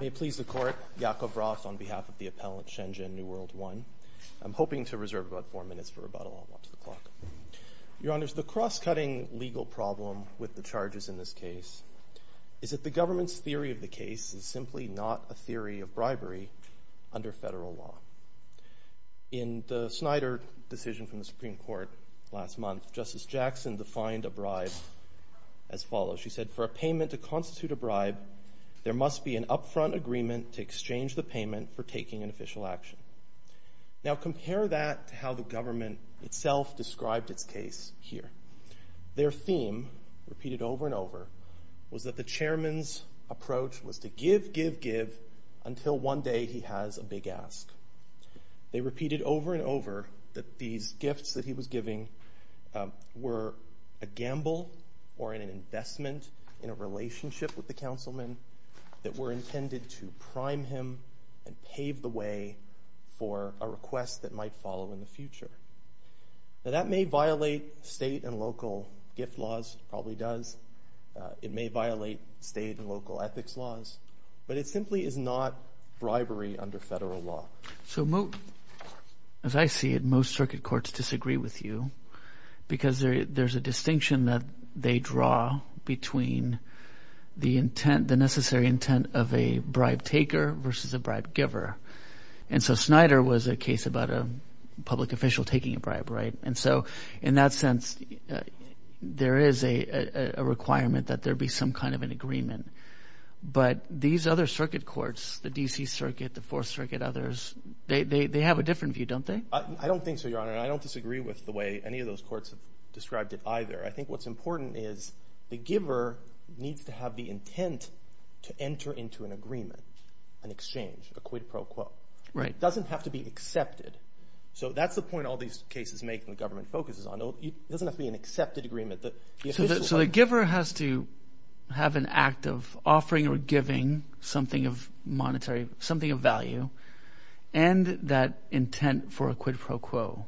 May it please the Court, Yakov Roth on behalf of the appellant Shen Zhen New World I. I'm hoping to reserve about four minutes for rebuttal. I'll watch the clock. Your Honor, the cross-cutting legal problem with the charges in this case is that the government's theory of the case is simply not a theory of bribery under federal law. In the Snyder decision from the Supreme Court last month, Justice Jackson defined a bribe as follows. She said, for a payment to constitute a bribe, there must be an upfront agreement to exchange the payment for taking an official action. Now their theme, repeated over and over, was that the chairman's approach was to give, give, give, until one day he has a big ask. They repeated over and over that these gifts that he was giving were a gamble or an investment in a relationship with the councilman that were intended to prime him and pave the way for a request that might follow in the future. Now that may violate state and local gift laws. It probably does. It may violate state and local ethics laws. But it simply is not bribery under federal law. So as I see it, most circuit courts disagree with you because there's a distinction that they draw between the intent, the necessary intent of a bribe taker versus a bribe giver. And so Snyder was a case about a public official taking a bribe, right? And so in that sense, there is a requirement that there be some kind of an agreement. But these other circuit courts, the D.C. Circuit, the Fourth Circuit, others, they have a different view, don't they? I don't think so, Your Honor, and I don't disagree with the way any of those courts have described it either. I think what's important is the giver needs to have the intent to enter into an agreement, an exchange, a quid pro quo. Right. It doesn't have to be accepted. So that's the point all these cases make and the government focuses on. It doesn't have to be an accepted agreement. So the giver has to have an act of offering or giving something of monetary, something of value, and that intent for a quid pro quo.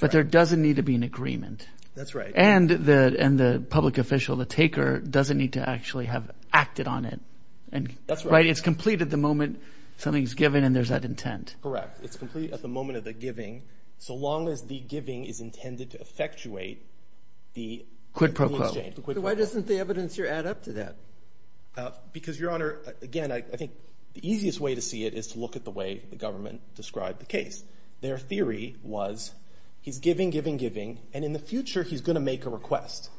But there doesn't need to be an agreement. That's right. And the public official, the taker, doesn't need to actually have acted on it. Right? It's complete at the moment something's given and there's that intent. Correct. It's complete at the moment of the giving so long as the giving is intended to effectuate the exchange. The quid pro quo. So why doesn't the evidence here add up to that? Because, Your Honor, again, I think the easiest way to see it is to look at the way the government described the case. Their theory was he's giving, giving, giving, and in the future he's going to make a request.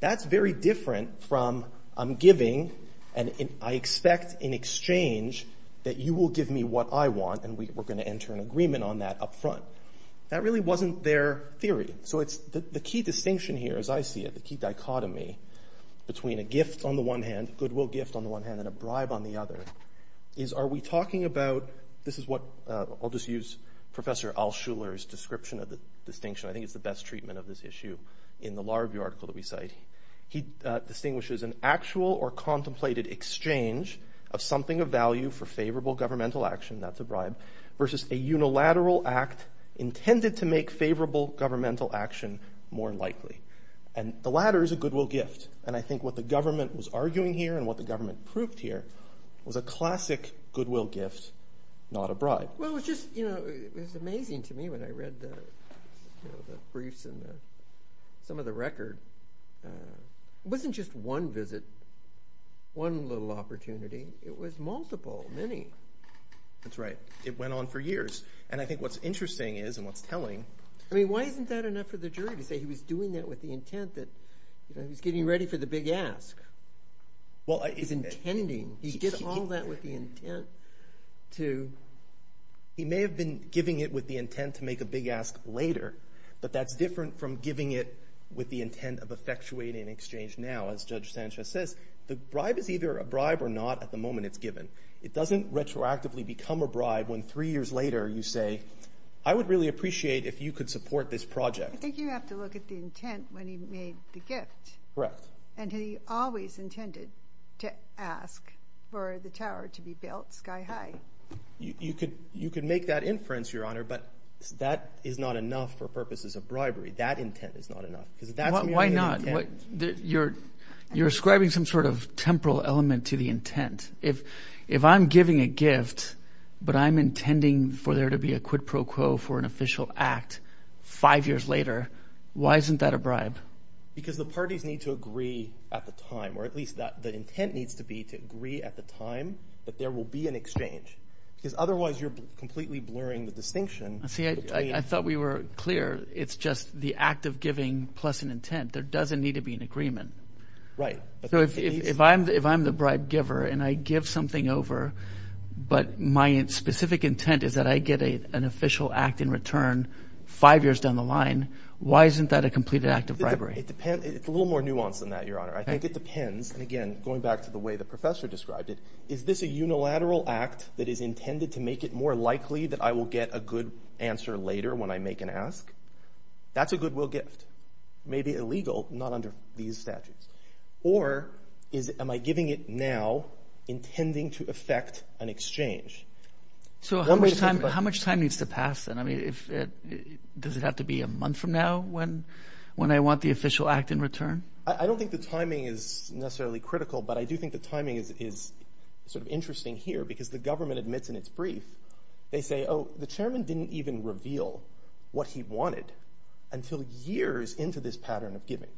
That's very different from I'm giving and I expect in exchange that you will give me what I want and we're going to enter an agreement on that up front. That really wasn't their theory. So it's the key distinction here, as I see it, the key dichotomy between a gift on the one hand, goodwill gift on the one hand, and a bribe on the other, is are we talking about, this is what, I'll just use Professor Al-Shuler's description of the distinction, I think it's the best treatment of this issue in the Larview article that we cite, he distinguishes an actual or contemplated exchange of something of value for favorable governmental action, that's a bribe, versus a unilateral act intended to make favorable governmental action more likely. And the latter is a goodwill gift. And I think what the government was arguing here and what the government proved here was a classic goodwill gift, not a bribe. Well, it was just, you know, it was amazing to me when I read the briefs and some of the It wasn't just one visit, one little opportunity, it was multiple, many. That's right. It went on for years. And I think what's interesting is, and what's telling... I mean, why isn't that enough for the jury to say he was doing that with the intent that, you know, he was getting ready for the big ask? He's intending, he did all that with the intent to... He may have been giving it with the intent to make a big ask later, but that's different from giving it with the intent of effectuating an exchange now, as Judge Sanchez says. The bribe is either a bribe or not at the moment it's given. It doesn't retroactively become a bribe when three years later you say, I would really appreciate if you could support this project. I think you have to look at the intent when he made the gift. Correct. And he always intended to ask for the tower to be built sky high. You could make that inference, Your Honor, but that is not enough for purposes of bribery. That intent is not enough because that's... Why not? You're ascribing some sort of temporal element to the intent. If I'm giving a gift, but I'm intending for there to be a quid pro quo for an official act five years later, why isn't that a bribe? Because the parties need to agree at the time, or at least the intent needs to be to agree at the time that there will be an exchange because otherwise you're completely blurring the distinction. I thought we were clear. It's just the act of giving plus an intent. There doesn't need to be an agreement. Right. So if I'm the bribe giver and I give something over, but my specific intent is that I get an official act in return five years down the line, why isn't that a completed act of bribery? It depends. It's a little more nuanced than that, Your Honor. I think it depends. And again, going back to the way the professor described it, is this a unilateral act that is intended to make it more likely that I will get a good answer later when I make an ask? That's a goodwill gift. Maybe illegal, not under these statutes. Or am I giving it now intending to affect an exchange? So how much time needs to pass? Does it have to be a month from now when I want the official act in return? I don't think the timing is necessarily critical. But I do think the timing is sort of interesting here because the government admits in its brief, they say, oh, the chairman didn't even reveal what he wanted until years into this pattern of giving.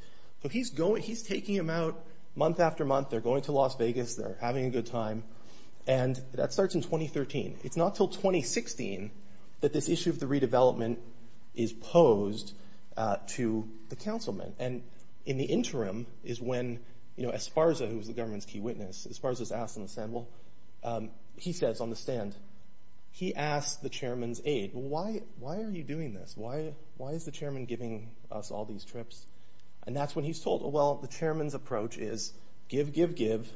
So he's taking them out month after month. They're going to Las Vegas. They're having a good time. And that starts in 2013. It's not till 2016 that this issue of the redevelopment is posed to the councilmen. And in the interim is when Esparza, who's the government's key witness, Esparza's asked on the stand. Well, he says on the stand, he asked the chairman's aide, why are you doing this? Why is the chairman giving us all these trips? And that's when he's told, well, the chairman's approach is give, give, give,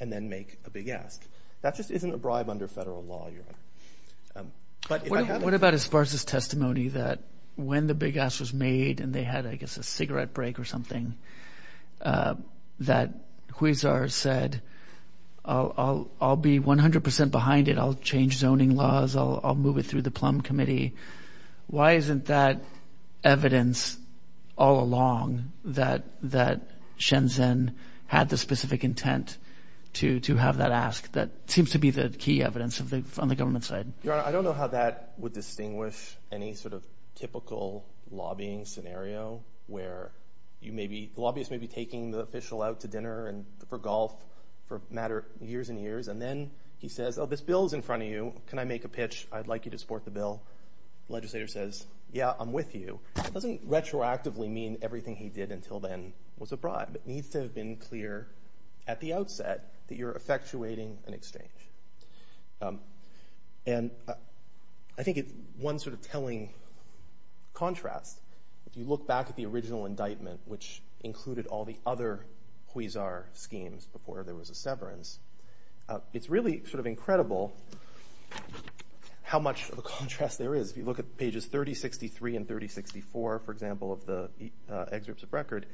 and then make a big ask. That just isn't a bribe under federal law, Your Honor. What about Esparza's testimony that when the big ask was made and they had, I guess, a cigarette break or something, that Huizar said, I'll be 100 percent behind it. I'll change zoning laws. I'll move it through the plum committee. Why isn't that evidence all along that Shenzhen had the specific intent to have that ask? That seems to be the key evidence on the government side. Your Honor, I don't know how that would distinguish any sort of typical lobbying scenario where the lobbyist may be taking the official out to dinner for golf for years and years, and then he says, oh, this bill's in front of you. Can I make a pitch? I'd like you to support the bill. The legislator says, yeah, I'm with you. It doesn't retroactively mean everything he did until then was a bribe. It needs to have been clear at the outset that you're effectuating an exchange. And I think it's one sort of telling contrast. If you look back at the original indictment, which included all the other Huizar schemes before there was a severance, it's really sort of incredible how much of a contrast there is. If you look at pages 3063 and 3064, for example, of the excerpts of record,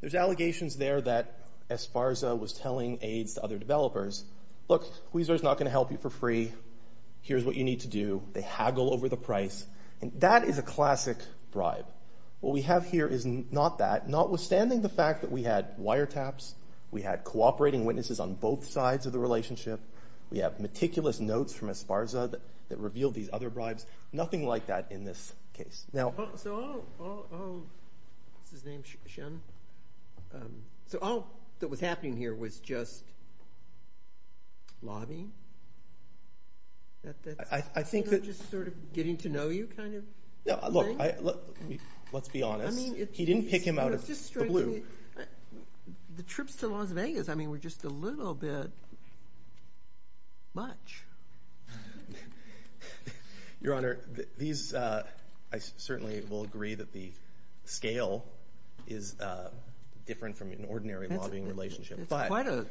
there's allegations there that Esparza was telling aides to other developers, look, Huizar's not going to help you for free. Here's what you need to do. They haggle over the price. And that is a classic bribe. What we have here is not that, notwithstanding the fact that we had wiretaps. We had cooperating witnesses on both sides of the relationship. We have meticulous notes from Esparza that revealed these other bribes. Nothing like that in this case. Now, so all that was happening here was just lobbying? I think that... Just sort of getting to know you kind of thing? No, look, let's be honest. He didn't pick him out of the blue. The trips to Las Vegas, I mean, were just a little bit much. Your Honor, these, I certainly will agree that the scale is different from an ordinary lobbying relationship. It's quite a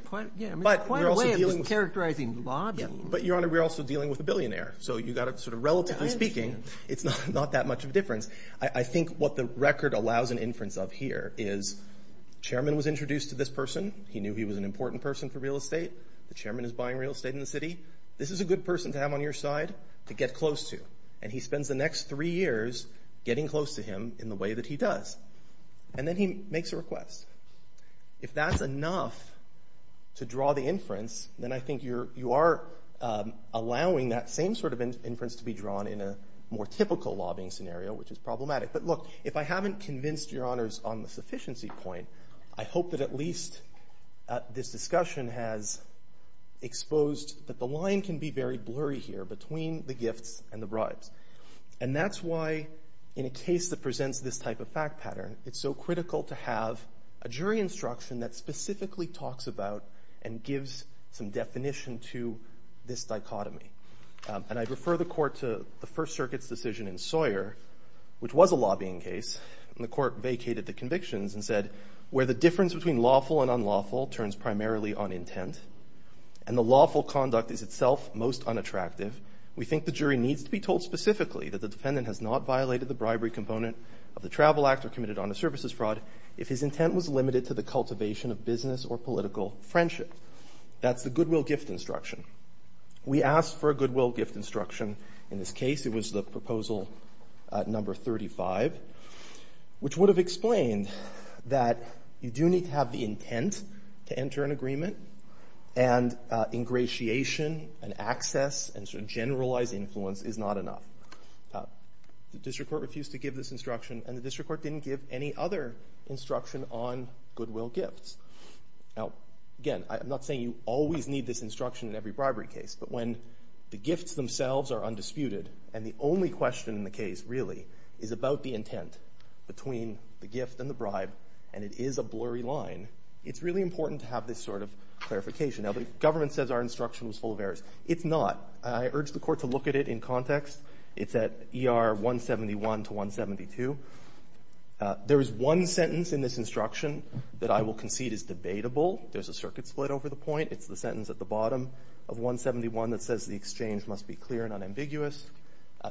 way of characterizing lobbying. But, Your Honor, we're also dealing with a billionaire. So you got to sort of, relatively speaking, it's not that much of a difference. I think what the record allows an inference of here is chairman was introduced to this person. He knew he was an important person for real estate. The chairman is buying real estate in the city. This is a good person to have on your side to get close to. And he spends the next three years getting close to him in the way that he does. And then he makes a request. If that's enough to draw the inference, then I think you are allowing that same sort of inference to be drawn in a more typical lobbying scenario, which is problematic. But look, if I haven't convinced Your Honors on the sufficiency point, I hope that at least this discussion has exposed that the line can be very blurry here between the gifts and the bribes. And that's why, in a case that presents this type of fact pattern, it's so critical to have a jury instruction that specifically talks about and gives some definition to this dichotomy. And I refer the court to the First Circuit's decision in Sawyer, which was a lobbying case. And the court vacated the convictions and said, where the difference between lawful and unlawful turns primarily on intent, and the lawful conduct is itself most unattractive, we think the jury needs to be told specifically that the defendant has not violated the bribery component of the travel act or committed honest services fraud if his intent was limited to the cultivation of business or political friendship. That's the goodwill gift instruction. We asked for a goodwill gift instruction. In this case, it was the proposal number 35, which would have explained that you do need to have the intent to enter an agreement, and ingratiation and access and sort of generalized influence is not enough. The district court refused to give this instruction, and the district court didn't give any other instruction on goodwill gifts. Now, again, I'm not saying you always need this instruction in every bribery case, but when the gifts themselves are undisputed, and the only question in the case really is about the intent between the gift and the bribe, and it is a blurry line, it's really important to have this sort of clarification. Now, the government says our instruction was full of errors. It's not. I urge the court to look at it in context. It's at ER 171 to 172. There is one sentence in this instruction that I will concede is debatable. There's a circuit split over the point. It's the sentence at the bottom of 171 that says the exchange must be clear and unambiguous.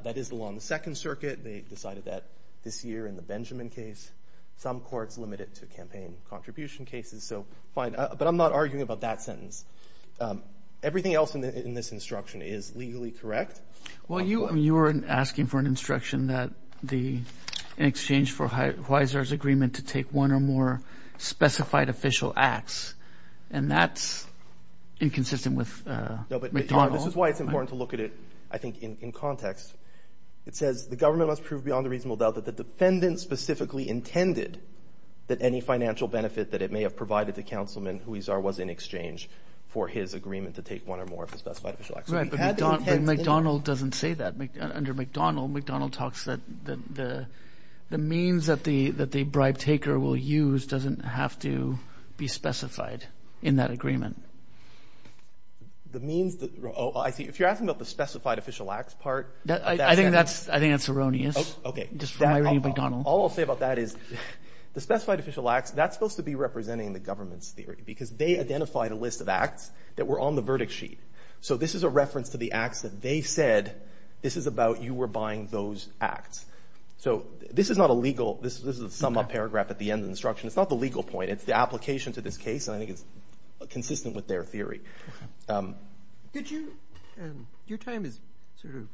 That is along the Second Circuit. They decided that this year in the Benjamin case. Some courts limit it to campaign contribution cases, so fine. But I'm not arguing about that sentence. Everything else in this instruction is legally correct. Well, you were asking for an instruction that the exchange for Huizar's agreement to take one or more specified official acts, and that's inconsistent with McDonald. This is why it's important to look at it, I think, in context. It says the government must prove beyond a reasonable doubt that the defendant specifically intended that any financial benefit that it may have provided the councilman Huizar was in exchange for his agreement to take one or more of the specified official acts. McDonald doesn't say that. Under McDonald, McDonald talks that the means that the bribe taker will use doesn't have to be specified in that agreement. If you're asking about the specified official acts part. I think that's erroneous. All I'll say about that is the specified official acts, that's supposed to be representing the government's theory because they identified a list of acts that were on the verdict sheet. So this is a reference to the acts that they said, this is about you were buying those acts. So this is not a legal, this is a sum up paragraph at the end of the instruction. It's not the legal point, it's the application to this case, and I think it's consistent with their theory. Did you, your time is sort of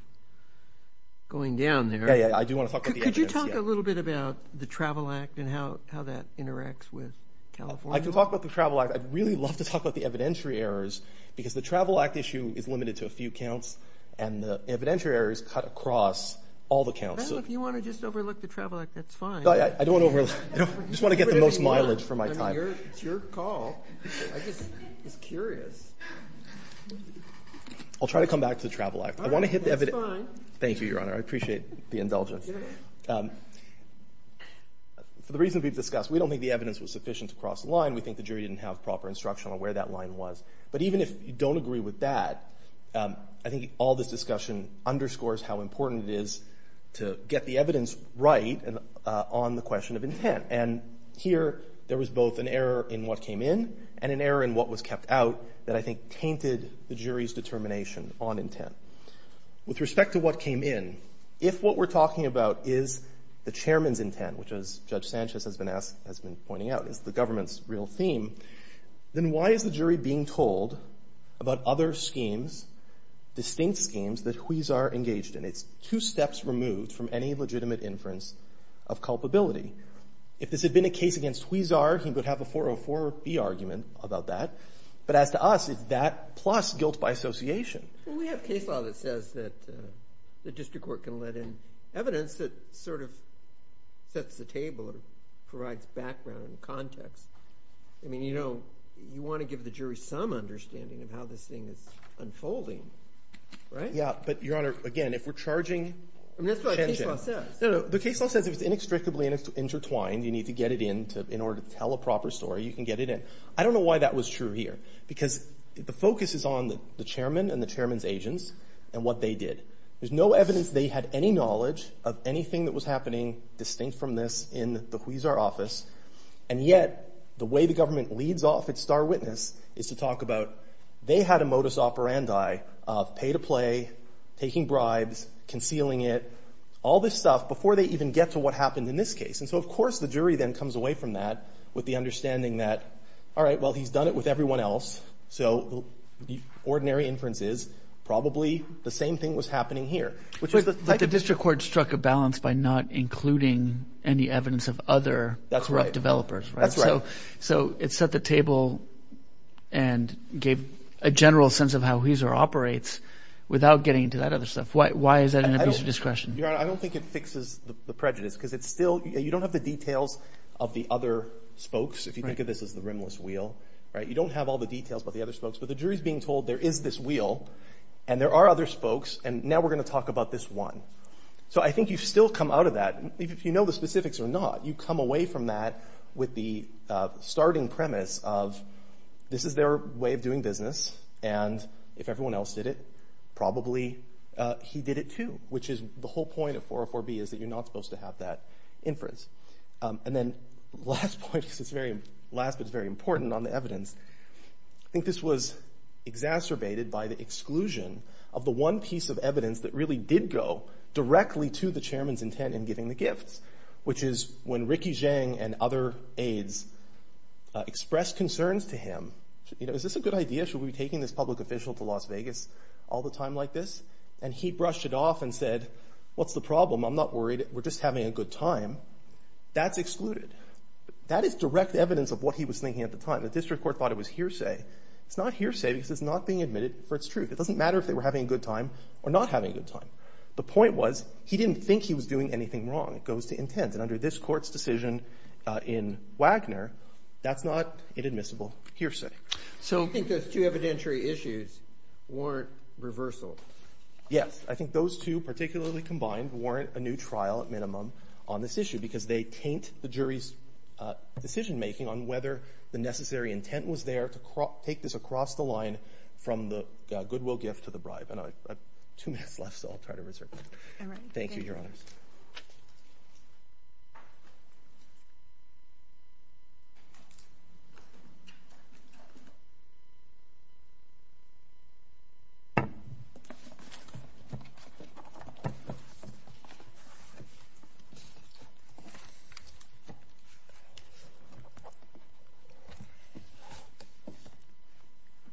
going down there. Yeah, yeah, I do want to talk about the evidence. Could you talk a little bit about the Travel Act and how that interacts with California? I can talk about the Travel Act. I'd really love to talk about the evidentiary errors because the Travel Act issue is limited to a few counts and the evidentiary errors cut across all the counts. I don't know if you want to just overlook the Travel Act. That's fine. I don't want to overlook. I just want to get the most mileage for my time. It's your call. I'm just curious. I'll try to come back to the Travel Act. I want to hit the evidence. All right, that's fine. Thank you, Your Honor. I appreciate the indulgence. For the reason we've discussed, we don't think the evidence was sufficient to cross the line. We think the jury didn't have proper instruction on where that line was. But even if you don't agree with that, I think all this discussion underscores how important it is to get the evidence right on the question of intent. And here, there was both an error in what came in and an error in what was kept out that I think tainted the jury's determination on intent. With respect to what came in, if what we're talking about is the chairman's intent, which, as Judge Sanchez has been pointing out, is the government's real theme, then why is the jury being told about other schemes, distinct schemes, that Huizar engaged in? It's two steps removed from any legitimate inference of culpability. If this had been a case against Huizar, he would have a 404B argument about that. But as to us, it's that plus guilt by association. We have case law that says that the district court can let in evidence that sort of sets the table or provides background and context. I mean, you know, you want to give the jury some understanding of how this thing is unfolding, right? Yeah, but, Your Honor, again, if we're charging... I mean, that's what the case law says. No, no, the case law says if it's inextricably intertwined, you need to get it in in order to tell a proper story, you can get it in. I don't know why that was true here, because the focus is on the chairman and the chairman's agents and what they did. There's no evidence they had any knowledge of anything that was happening distinct from this in the Huizar office. And yet, the way the government leads off at Star Witness is to talk about they had a modus operandi of pay to play, taking bribes, concealing it, all this stuff before they even get to what happened in this case. And so, of course, the jury then comes away from that with the understanding that, all right, well, he's done it with everyone else. So the ordinary inference is probably the same thing was happening here. But the district court struck a balance by not including any evidence of other corrupt developers. That's right. So it set the table and gave a general sense of how Huizar operates without getting into that other stuff. Why is that an abuse of discretion? I don't think it fixes the prejudice, because it's still you don't have the details of the other spokes. If you think of this as the rimless wheel, right, you don't have all the details about the other spokes. But the jury is being told there is this wheel and there are other spokes. And now we're going to talk about this one. So I think you've still come out of that. If you know the specifics or not, you come away from that with the starting premise of this is their way of doing business. And if everyone else did it, probably he did it too, which is the whole point of 404B is that you're not supposed to have that inference. And then last point, because it's very last, but it's very important on the evidence. I think this was exacerbated by the exclusion of the one piece of evidence that really did go directly to the chairman's intent in giving the gifts, which is when Ricky Zhang and other aides expressed concerns to him. Is this a good idea? Should we be taking this public official to Las Vegas all the time like this? And he brushed it off and said, what's the problem? I'm not worried. We're just having a good time. That's excluded. That is direct evidence of what he was thinking at the time. The district court thought it was hearsay. It's not hearsay because it's not being admitted for its truth. It doesn't matter if they were having a good time or not having a good time. The point was he didn't think he was doing anything wrong. It goes to intent. And under this Court's decision in Wagner, that's not inadmissible hearsay. So I think those two evidentiary issues warrant reversal. Yes. I think those two particularly combined warrant a new trial, at minimum, on this issue because they taint the jury's decision making on whether the necessary intent was there to take this across the line from the goodwill gift to the bribe. And I have two minutes left. So I'll try to reserve that. All right. Thank you, Your Honors.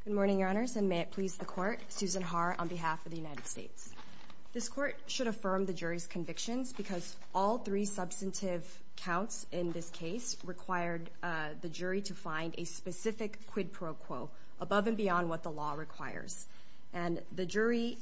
Good morning, Your Honors. And may it please the Court, Susan Haar on behalf of the United States. This Court should affirm the jury's convictions because all three substantive counts in this case required the jury to find a specific quid pro quo above and beyond what the law requires. And the jury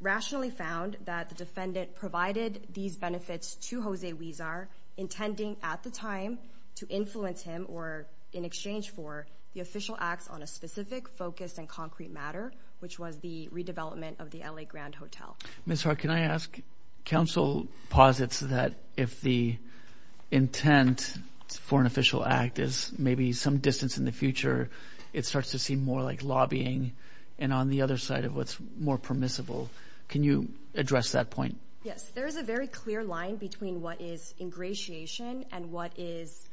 rationally found that the defendant provided these benefits to Jose Huizar, intending at the time to influence him or in exchange for the official acts on a specific focus and concrete matter, which was the redevelopment of the L.A. Grand Hotel. Ms. Haar, can I ask, counsel posits that if the intent for an official act is maybe some distance in the future, it starts to seem more like lobbying and on the other side of what's more permissible. Can you address that point? Yes. There is a very clear line between what is ingratiation and what is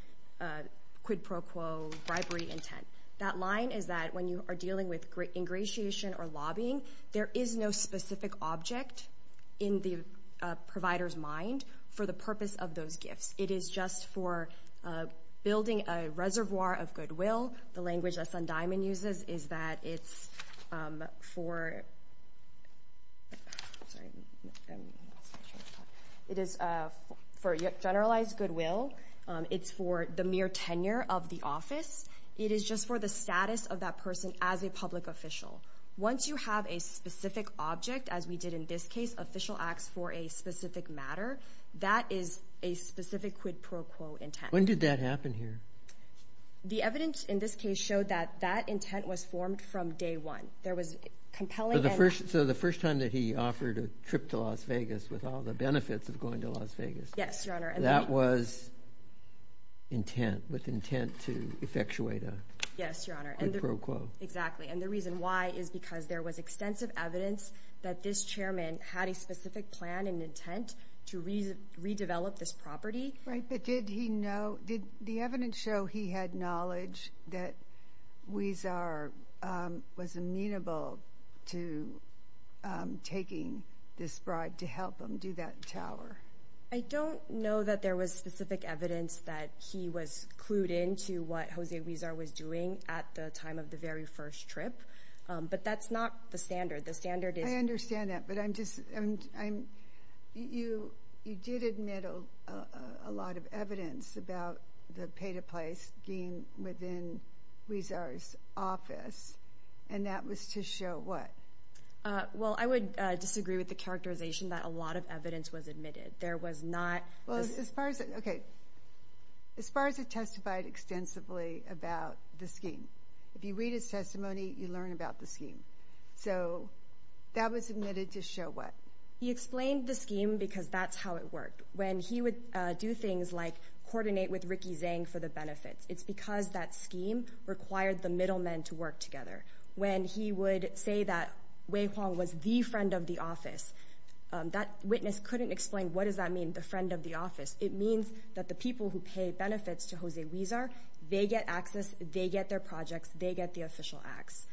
quid pro quo bribery intent. That line is that when you are dealing with ingratiation or lobbying, there is no specific object in the provider's mind for the purpose of those gifts. It is just for building a reservoir of goodwill. The language that Sundiaman uses is that it's for generalized goodwill. It's for the mere tenure of the office. It is just for the status of that person as a public official. Once you have a specific object, as we did in this case, official acts for a specific matter, that is a specific quid pro quo intent. When did that happen here? The evidence in this case showed that that intent was formed from day one. There was compelling... So the first time that he offered a trip to Las Vegas with all the benefits of going to Las Vegas... Yes, Your Honor. That was with intent to effectuate a quid pro quo. Exactly. The reason why is because there was extensive evidence that this chairman had a specific plan and intent to redevelop this property. Right, but did the evidence show he had knowledge that Ouizar was amenable to taking this bribe to help him do that tower? I don't know that there was specific evidence that he was clued into what Jose Ouizar was doing at the time of the very first trip, but that's not the standard. The standard is... I understand that, but you did admit a lot of evidence about the pay-to-place scheme within Ouizar's office, and that was to show what? Well, I would disagree with the characterization that a lot of evidence was admitted. There was not... Well, as far as... Okay, as far as it testified extensively about the scheme. If you read his testimony, you learn about the scheme. So that was admitted to show what? He explained the scheme because that's how it worked. When he would do things like coordinate with Ricky Zhang for the benefits, it's because that scheme required the middlemen to work together. When he would say that Wei Huang was the friend of the office, that witness couldn't explain what does that mean, the friend of the office? It means that the people who pay benefits to Jose Ouizar, they get access, they get their projects, they get the official acts.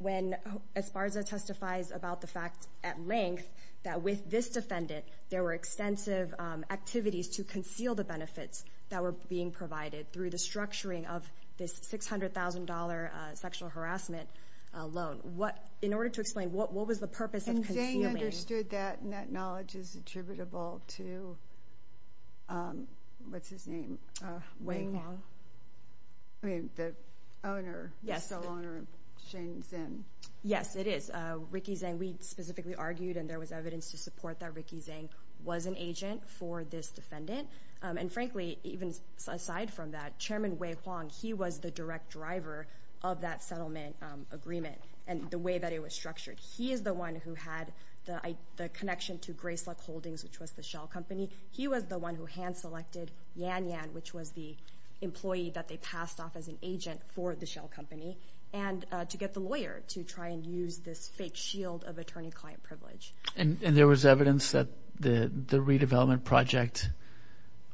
When Esparza testifies about the fact at length that with this defendant, there were extensive activities to conceal the benefits that were being provided through the structuring of this $600,000 sexual harassment loan. In order to explain what was the purpose of concealing... And Zhang understood that and that knowledge is attributable to... What's his name? I mean, the owner, the sole owner of Shenzhen. Yes, it is. Ricky Zhang, we specifically argued and there was evidence to support that Ricky Zhang was an agent for this defendant. And frankly, even aside from that, Chairman Wei Huang, he was the direct driver of that settlement agreement and the way that it was structured. He is the one who had the connection to Grace Luck Holdings, which was the shell company. He was the one who hand selected Yan Yan, which was the employee that they passed off as an agent for the shell company, and to get the lawyer to try and use this fake shield of attorney-client privilege. And there was evidence that the redevelopment project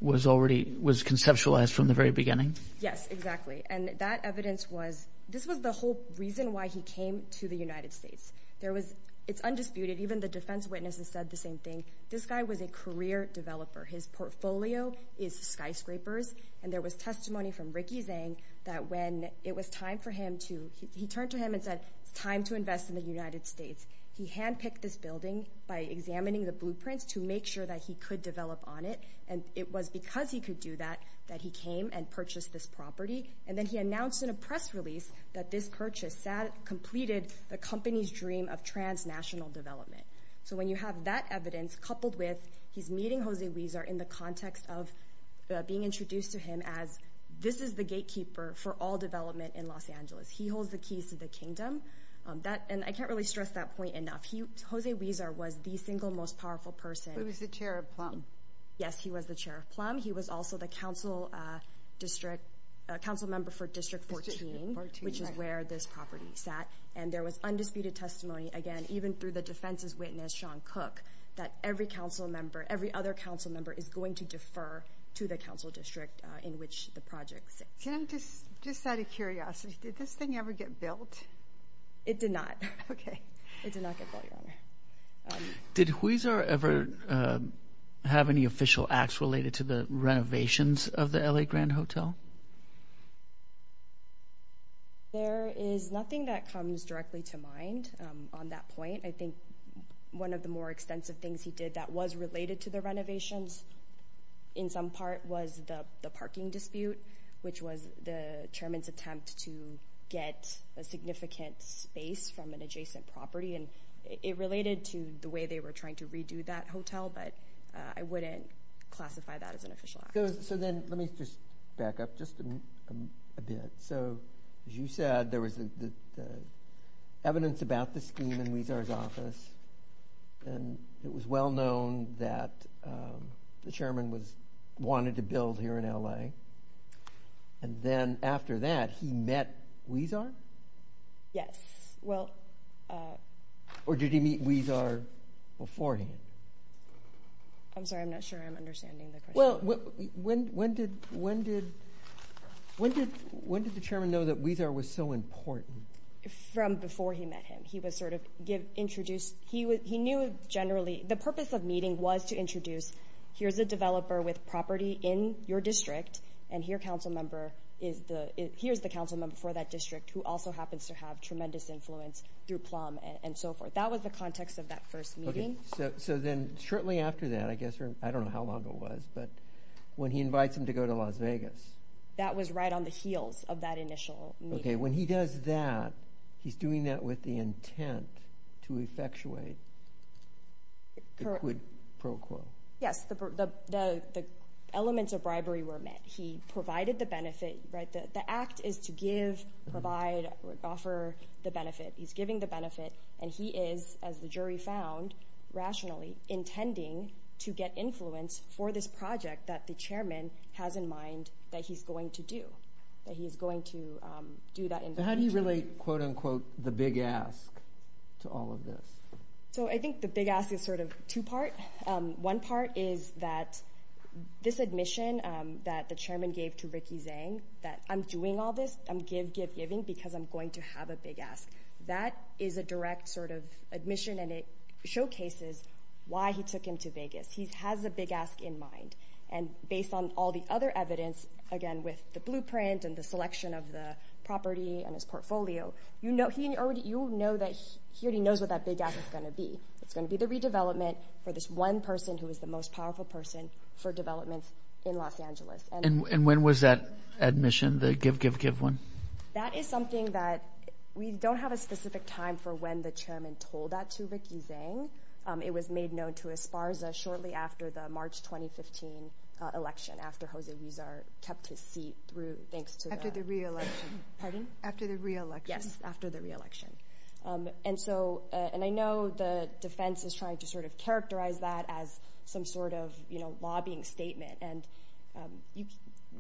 was conceptualized from the very beginning? Yes, exactly. And that evidence was... This was the whole reason why he came to the United States. There was... It's undisputed. Even the defense witnesses said the same thing. This guy was a career developer. His portfolio is skyscrapers. And there was testimony from Ricky Zhang that when it was time for him to... He turned to him and said, it's time to invest in the United States. He handpicked this building by examining the blueprints to make sure that he could develop on it. And it was because he could do that that he came and purchased this property. And then he announced in a press release that this purchase completed the company's dream of transnational development. So when you have that evidence coupled with... He's meeting Jose Huizar in the context of being introduced to him as this is the gatekeeper for all development in Los Angeles. He holds the keys to the kingdom. And I can't really stress that point enough. Jose Huizar was the single most powerful person. He was the chair of Plum. Yes, he was the chair of Plum. He was also the council member for District 14, which is where this property sat. And there was undisputed testimony, again, even through the defense's witness, Sean Cook, that every council member, every other council member is going to defer to the council district in which the project sits. Can I just... Just out of curiosity, did this thing ever get built? It did not. Okay. It did not get built, Your Honor. Did Huizar ever have any official acts related to the renovations of the LA Grand Hotel? There is nothing that comes directly to mind on that point. I think one of the more extensive things he did that was related to the renovations in some part was the parking dispute, which was the chairman's attempt to get a significant space from an adjacent property. And it related to the way they were trying to redo that hotel. But I wouldn't classify that as an official act. So then let me just back up just a bit. So as you said, there was the evidence about the scheme in Huizar's office. And it was well known that the chairman wanted to build here in LA. Okay. And then after that, he met Huizar? Yes. Well... Or did he meet Huizar beforehand? I'm sorry. I'm not sure I'm understanding the question. Well, when did the chairman know that Huizar was so important? From before he met him. He was sort of introduced... He knew generally... The purpose of meeting was to introduce, here's a developer with property in your district, and here's the council member for that district who also happens to have tremendous influence through PLUM and so forth. That was the context of that first meeting. So then shortly after that, I guess... I don't know how long it was, but when he invites him to go to Las Vegas... That was right on the heels of that initial meeting. Okay. When he does that, he's doing that with the intent to effectuate the quid pro quo. Yes. The elements of bribery were met. He provided the benefit, right? The act is to give, provide, offer the benefit. He's giving the benefit, and he is, as the jury found, rationally intending to get influence for this project that the chairman has in mind that he's going to do. That he's going to do that... How do you relate, quote unquote, the big ask to all of this? So I think the big ask is sort of two part. One part is that this admission that the chairman gave to Ricky Zhang, that I'm doing all this, I'm give, give, giving, because I'm going to have a big ask. That is a direct sort of admission, and it showcases why he took him to Vegas. He has a big ask in mind. And based on all the other evidence, again, with the blueprint and the selection of the property and his portfolio, you know that he already knows what that big ask is going to be. It's going to be the redevelopment for this one person who is the most powerful person for development in Los Angeles. And when was that admission, the give, give, give one? That is something that we don't have a specific time for when the chairman told that to Ricky Zhang. It was made known to Esparza shortly after the March 2015 election, after Jose Huizar kept his seat through, thanks to... After the re-election. Pardon? After the re-election. Yes, after the re-election. And so, and I know the defense is trying to sort of characterize that as some sort of, you know, lobbying statement. And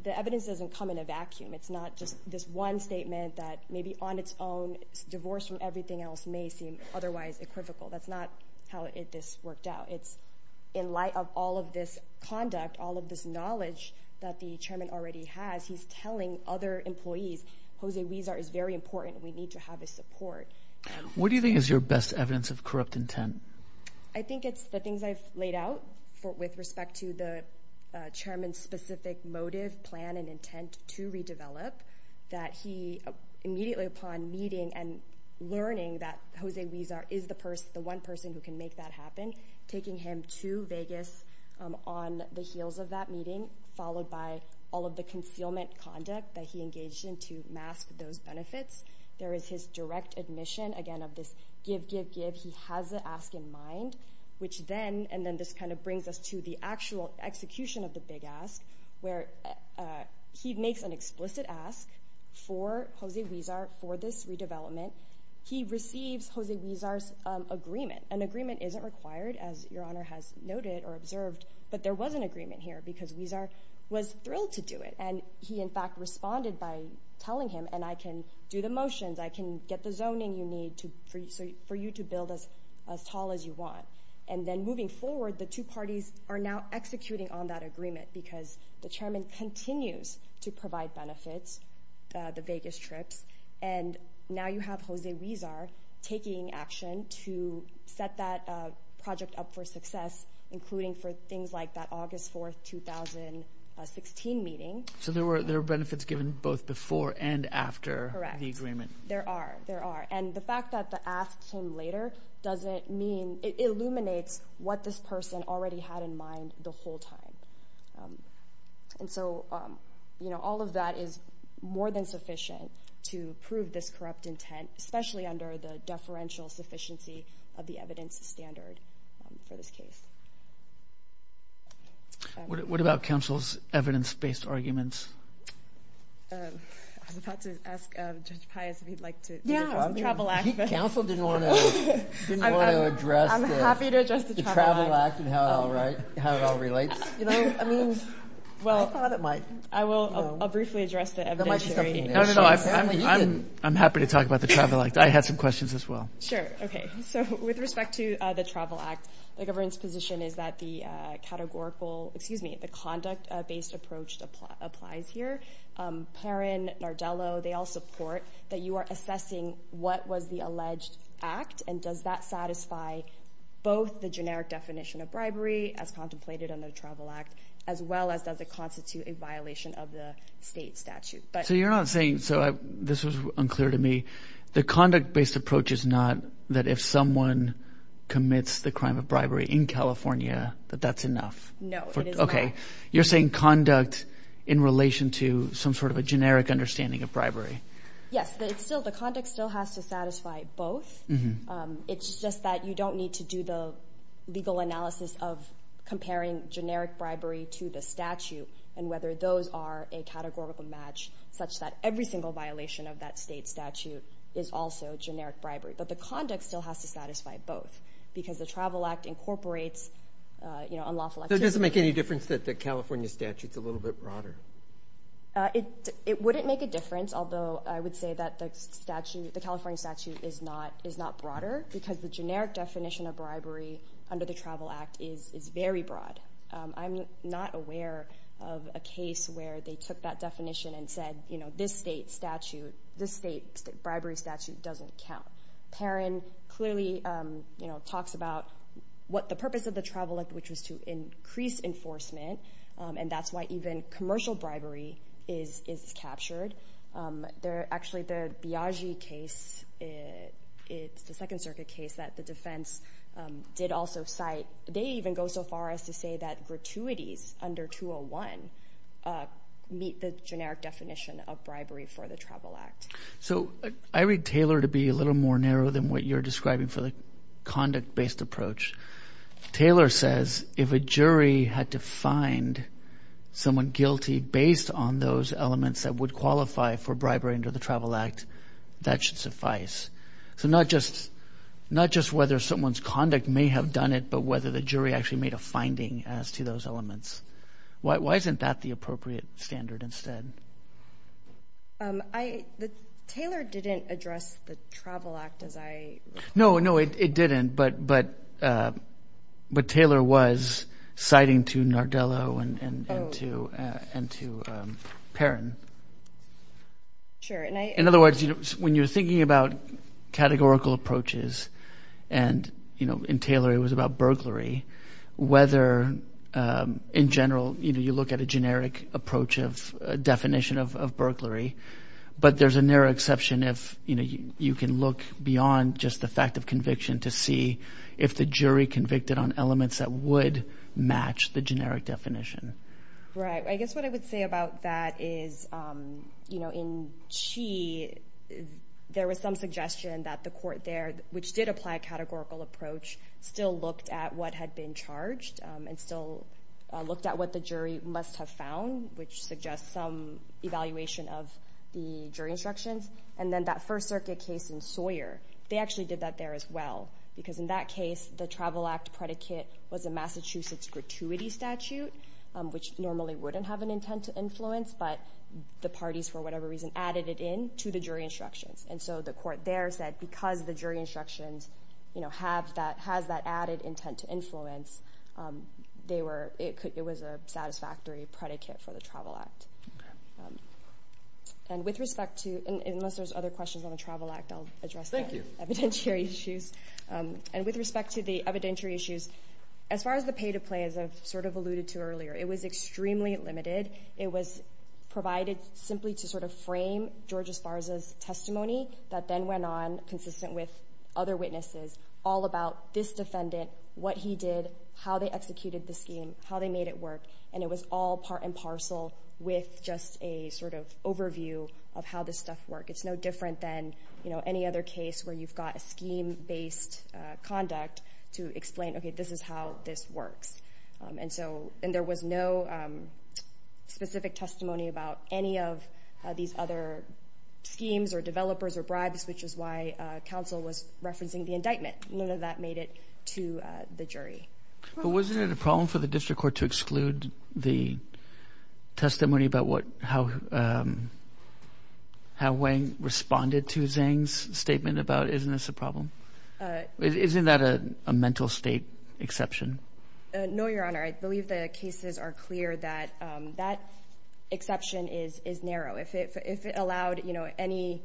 the evidence doesn't come in a vacuum. It's not just this one statement that maybe on its own, divorced from everything else may seem otherwise equivocal. That's not how this worked out. It's in light of all of this conduct, all of this knowledge that the chairman already has, he's telling other employees, Jose Huizar is very important. We need to have his support. What do you think is your best evidence of corrupt intent? I think it's the things I've laid out with respect to the chairman's specific motive, plan, and intent to redevelop. That he immediately upon meeting and learning that Jose Huizar is the one person who can make that happen, taking him to Vegas on the heels of that meeting, followed by all of the concealment conduct that he engaged in to mask those benefits. There is his direct admission, again, of this give, give, give. He has the ask in mind, which then, and then this kind of brings us to the actual execution of the big ask, where he makes an explicit ask for Jose Huizar for this redevelopment. He receives Jose Huizar's agreement. An agreement isn't required, as your honor has noted or observed, but there was an agreement here because Huizar was thrilled to do it. And he in fact responded by telling him, and I can do the motions, I can get the zoning you need for you to build as tall as you want. And then moving forward, the two parties are now executing on that agreement because the chairman continues to provide benefits, the Vegas trips, and now you have Jose Huizar taking action to set that project up for success, including for things like that August 4th, 2016 meeting. So there were benefits given both before and after the agreement. There are, there are. And the fact that the ask came later doesn't mean, it illuminates what this person already had in mind the whole time. And so, you know, all of that is more than sufficient to prove this corrupt intent, especially under the deferential sufficiency of the evidence standard for this case. What about council's evidence-based arguments? I was about to ask Judge Pius if he'd like to. Yeah, the travel act. Council didn't want to address the travel act and how it all relates. You know, I mean, well, I thought it might. I will, I'll briefly address the evidence. No, no, no, I'm happy to talk about the travel act. I had some questions as well. Sure, okay. So with respect to the travel act, the government's position is that the categorical, excuse me, the conduct-based approach applies here. Perrin, Nardello, they all support that you are assessing what was the alleged act and does that satisfy both the generic definition of bribery as contemplated on the travel act, as well as does it constitute a violation of the state statute? So you're not saying, so this was unclear to me, the conduct-based approach is not that if someone commits the crime of bribery in California, that that's enough. No, it is not. Okay, you're saying conduct in relation to some sort of a generic understanding of bribery. Yes, it's still, the conduct still has to satisfy both. It's just that you don't need to do the legal analysis of comparing generic bribery to the statute and whether those are a categorical match such that every single violation of that state statute is also generic bribery. But the conduct still has to satisfy both because the travel act incorporates unlawful activity. That doesn't make any difference that the California statute's a little bit broader. It wouldn't make a difference, although I would say that the California statute is not broader because the generic definition of bribery under the travel act is very broad. I'm not aware of a case where they took that definition and said, this state statute, this state bribery statute doesn't count. Perrin clearly talks about what the purpose of the travel act, which was to increase enforcement, and that's why even commercial bribery is captured. Actually, the Biagi case, it's the second circuit case that the defense did also cite, they even go so far as to say that gratuities under 201 meet the generic definition of bribery for the travel act. So I read Taylor to be a little more narrow than what you're describing for the conduct-based approach. Taylor says, if a jury had to find someone guilty based on those elements that would qualify for bribery under the travel act, that should suffice. So not just whether someone's conduct may have done it, but whether the jury actually made a finding as to those elements. Why isn't that the appropriate standard instead? I, the, Taylor didn't address the travel act as I- No, no, it didn't, but Taylor was citing to Nardello and to Perrin. Sure, and I- In other words, when you're thinking about categorical approaches, and in Taylor, it was about burglary, whether in general, you look at a generic approach of definition of burglary, but there's a narrow exception if you can look beyond just the fact of conviction to see if the jury convicted on elements that would match the generic definition. Right, I guess what I would say about that is, in Chi, there was some suggestion that the court there, which did apply a categorical approach, still looked at what had been charged and still looked at what the jury must have found, which suggests some evaluation of the jury instructions. And then that First Circuit case in Sawyer, they actually did that there as well, because in that case, the travel act predicate was a Massachusetts gratuity statute, which normally wouldn't have an intent to influence, but the parties, for whatever reason, added it in to the jury instructions. And so the court there said, because the jury instructions, you know, has that added intent to influence, they were, it was a satisfactory predicate for the travel act. And with respect to, unless there's other questions on the travel act, I'll address the evidentiary issues. And with respect to the evidentiary issues, as far as the pay to play, as I've sort of alluded to earlier, it was extremely limited. It was provided simply to sort of frame George Esparza's testimony that then went on, consistent with other witnesses, all about this defendant, what he did, how they executed the scheme, how they made it work. And it was all part and parcel with just a sort of overview of how this stuff worked. It's no different than, you know, any other case where you've got a scheme-based conduct to explain, okay, this is how this works. And so, and there was no specific testimony about any of these other schemes or developers or bribes, which is why counsel was referencing the indictment. None of that made it to the jury. But wasn't it a problem for the district court to exclude the testimony about what, how Wang responded to Zhang's statement about, isn't this a problem? Isn't that a mental state exception? No, Your Honor. I believe the cases are clear that that exception is narrow. If it allowed, you know, any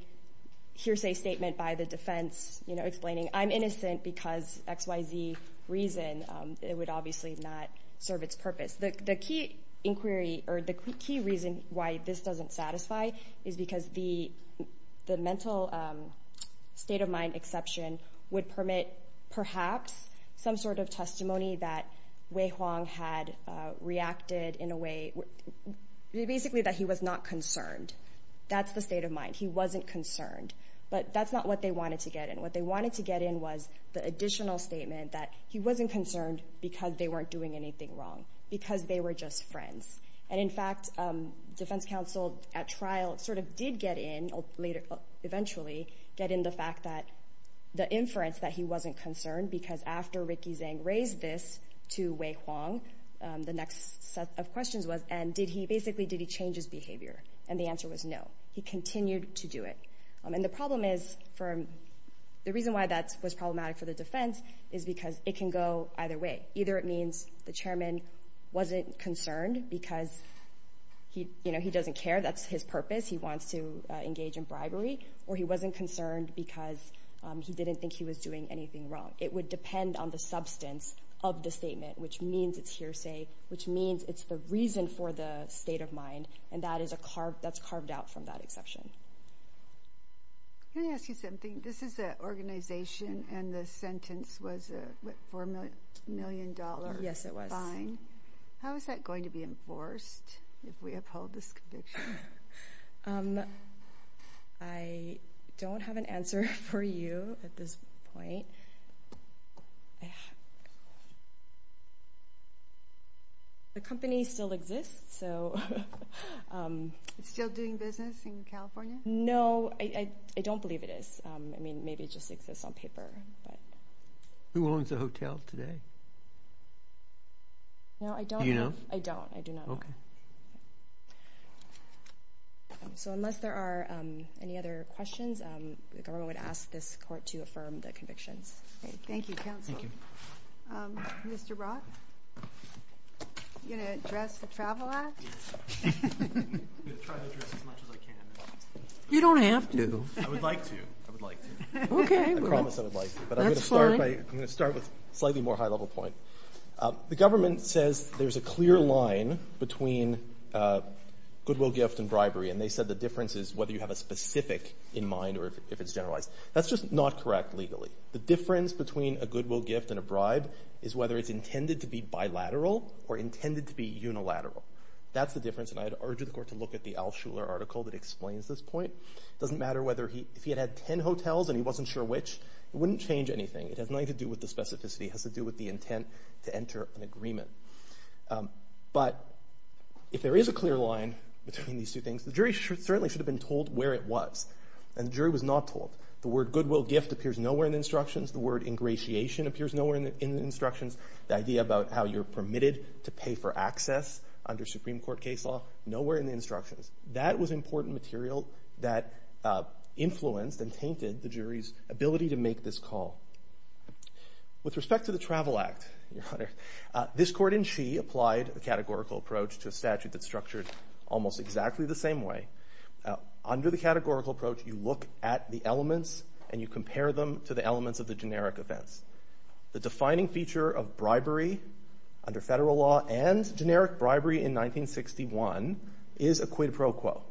hearsay statement by the defense, you know, explaining I'm innocent because X, Y, Z reason, it would obviously not serve its purpose. The key inquiry or the key reason why this doesn't satisfy is because the mental state of mind exception would permit perhaps some sort of testimony that Wei Huang had reacted in a way, basically that he was not concerned. That's the state of mind. He wasn't concerned, but that's not what they wanted to get in. What they wanted to get in was the additional statement that he wasn't concerned because they weren't doing anything wrong, because they were just friends. And in fact, defense counsel at trial sort of did get in later, eventually get in the fact that the inference that he wasn't concerned because after Ricky Zhang raised this to Wei Huang, the next set of questions was, and did he, basically, did he change his behavior? And the answer was no. He continued to do it. And the problem is for, the reason why that was problematic for the defense is because it can go either way. Either it means the chairman wasn't concerned because he, you know, he doesn't care. That's his purpose. He wants to engage in bribery, or he wasn't concerned because he didn't think he was doing anything wrong. It would depend on the substance of the statement, which means it's hearsay, which means it's the reason for the state of mind. And that is a carve, that's carved out from that exception. Can I ask you something? This is an organization, and the sentence was a $4 million fine. Yes, it was. How is that going to be enforced if we uphold this conviction? I don't have an answer for you at this point. The company still exists, so. It's still doing business in California? No, I don't believe it is. I mean, maybe it just exists on paper, but. Who owns the hotel today? No, I don't. Do you know? I don't, I do not know. So unless there are any other questions, the government would ask this court to affirm the convictions. Okay, thank you, counsel. Thank you. Mr. Brock? You're going to address the Travel Act? I'm going to try to address as much as I can. You don't have to. I would like to, I would like to. Okay, well. I promise I would like to, but I'm going to start with a slightly more high-level point. The government says there's a clear line between goodwill gift and bribery, and they said the difference is whether you have a specific in mind or if it's generalized. That's just not correct legally. The difference between a goodwill gift and a bribe whether it's intended to be bilateral or intended to be unilateral. That's the difference, and I'd urge the court to look at the Al Shuler article that explains this point. It doesn't matter whether he, if he had had 10 hotels and he wasn't sure which, it wouldn't change anything. It has nothing to do with the specificity. It has to do with the intent to enter an agreement. But if there is a clear line between these two things, the jury certainly should have been told where it was, and the jury was not told. The word goodwill gift appears nowhere in the instructions. The word ingratiation appears nowhere in the instructions. The idea about how you're permitted to pay for access under Supreme Court case law, nowhere in the instructions. That was important material that influenced and tainted the jury's ability to make this call. With respect to the Travel Act, Your Honor, this court in Shee applied the categorical approach to a statute that's structured almost exactly the same way. Under the categorical approach, you look at the elements and you compare them to the elements of the generic events. The defining feature of bribery under federal law and generic bribery in 1961 is a quid pro quo.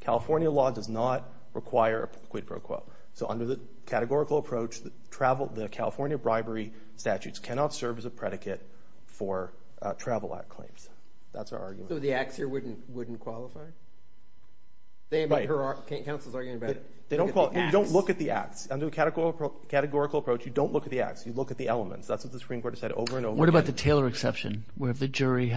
California law does not require a quid pro quo. So under the categorical approach, the California bribery statutes cannot serve as a predicate for Travel Act claims. That's our argument. So the acts here wouldn't qualify? Counsel's arguing about it. They don't look at the acts. Under the categorical approach, you don't look at the acts. You look at the elements. That's what the Supreme Court has said over and over again. What about the Taylor exception where the jury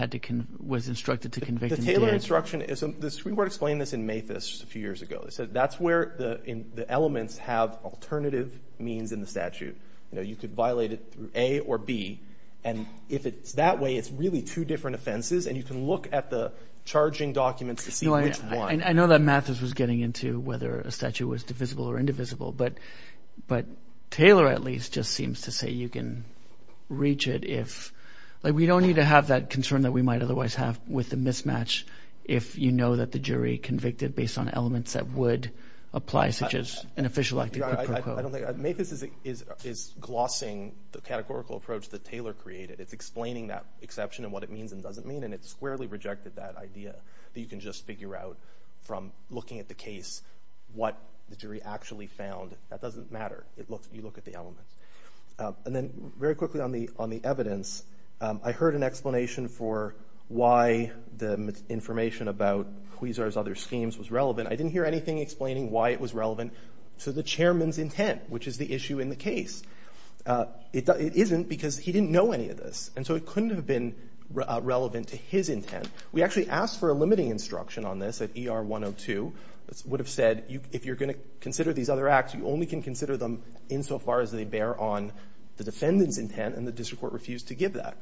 was instructed to convict him? The Taylor instruction is, the Supreme Court explained this in Mathis a few years ago. They said that's where the elements have alternative means in the statute. You know, you could violate it through A or B. And if it's that way, it's really two different offenses. And you can look at the charging documents to see which one. I know that Mathis was getting into whether a statute was divisible or indivisible, but Taylor, at least, just seems to say you can reach it if... We don't need to have that concern that we might otherwise have with the mismatch if you know that the jury convicted based on elements that would apply, such as an official act. I don't think... Mathis is glossing the categorical approach that Taylor created. It's explaining that exception and what it means and doesn't mean, and it's squarely rejected that idea that you can just figure out from looking at the case what the jury actually found. That doesn't matter. You look at the elements. And then very quickly on the evidence, I heard an explanation for why the information about Huizar's other schemes was relevant. I didn't hear anything explaining why it was relevant to the chairman's intent, which is the issue in the case. It isn't because he didn't know any of this, and so it couldn't have been relevant to his intent. We actually asked for a limiting instruction on this at ER 102. It would have said, if you're going to consider these other acts, you only can consider them insofar as they bear on the defendant's intent, and the district court refused to give that.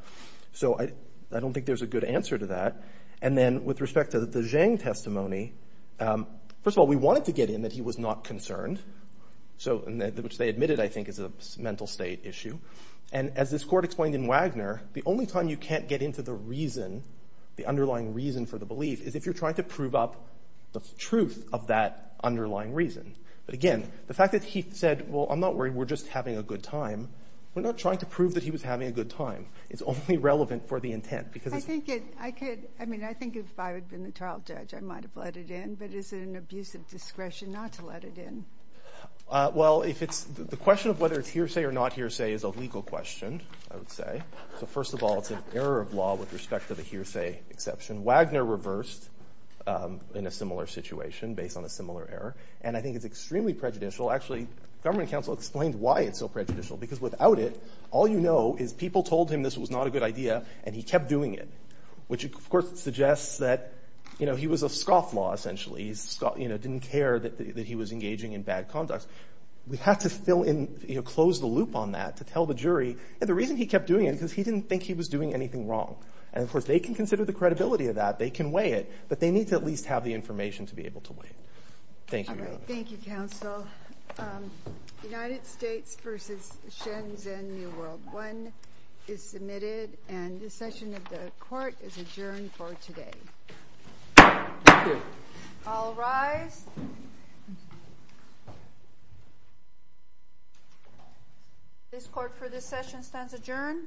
So I don't think there's a good answer to that. And then with respect to the Zhang testimony, first of all, we wanted to get in that he was not concerned. So, which they admitted, I think, is a mental state issue. And as this court explained in Wagner, the only time you can't get into the reason, the underlying reason for the belief, is if you're trying to prove up the truth of that underlying reason. But again, the fact that he said, well, I'm not worried. We're just having a good time. We're not trying to prove that he was having a good time. It's only relevant for the intent. Because I think it, I could, I mean, I think if I had been the trial judge, I might have let it in. But is it an abuse of discretion not to let it in? Well, if it's the question of whether it's hearsay or not hearsay is a legal question, I would say. So first of all, it's an error of law with respect to the hearsay exception. Wagner reversed in a similar situation based on a similar error. And I think it's extremely prejudicial. Actually, government counsel explained why it's so prejudicial. Because without it, all you know is people told him this was not a good idea and he kept doing it. Which, of course, suggests that, you know, he was a scofflaw essentially. He didn't care that he was engaging in bad conduct. We have to fill in, you know, close the loop on that to tell the jury the reason he kept doing it because he didn't think he was doing anything wrong. And of course, they can consider the credibility of that. They can weigh it, but they need to at least have the information to be able to weigh it. Thank you. All right. Thank you, counsel. United States versus Shenzhen, New World One is submitted. And this session of the court is adjourned for today. All rise. This court for this session stands adjourned.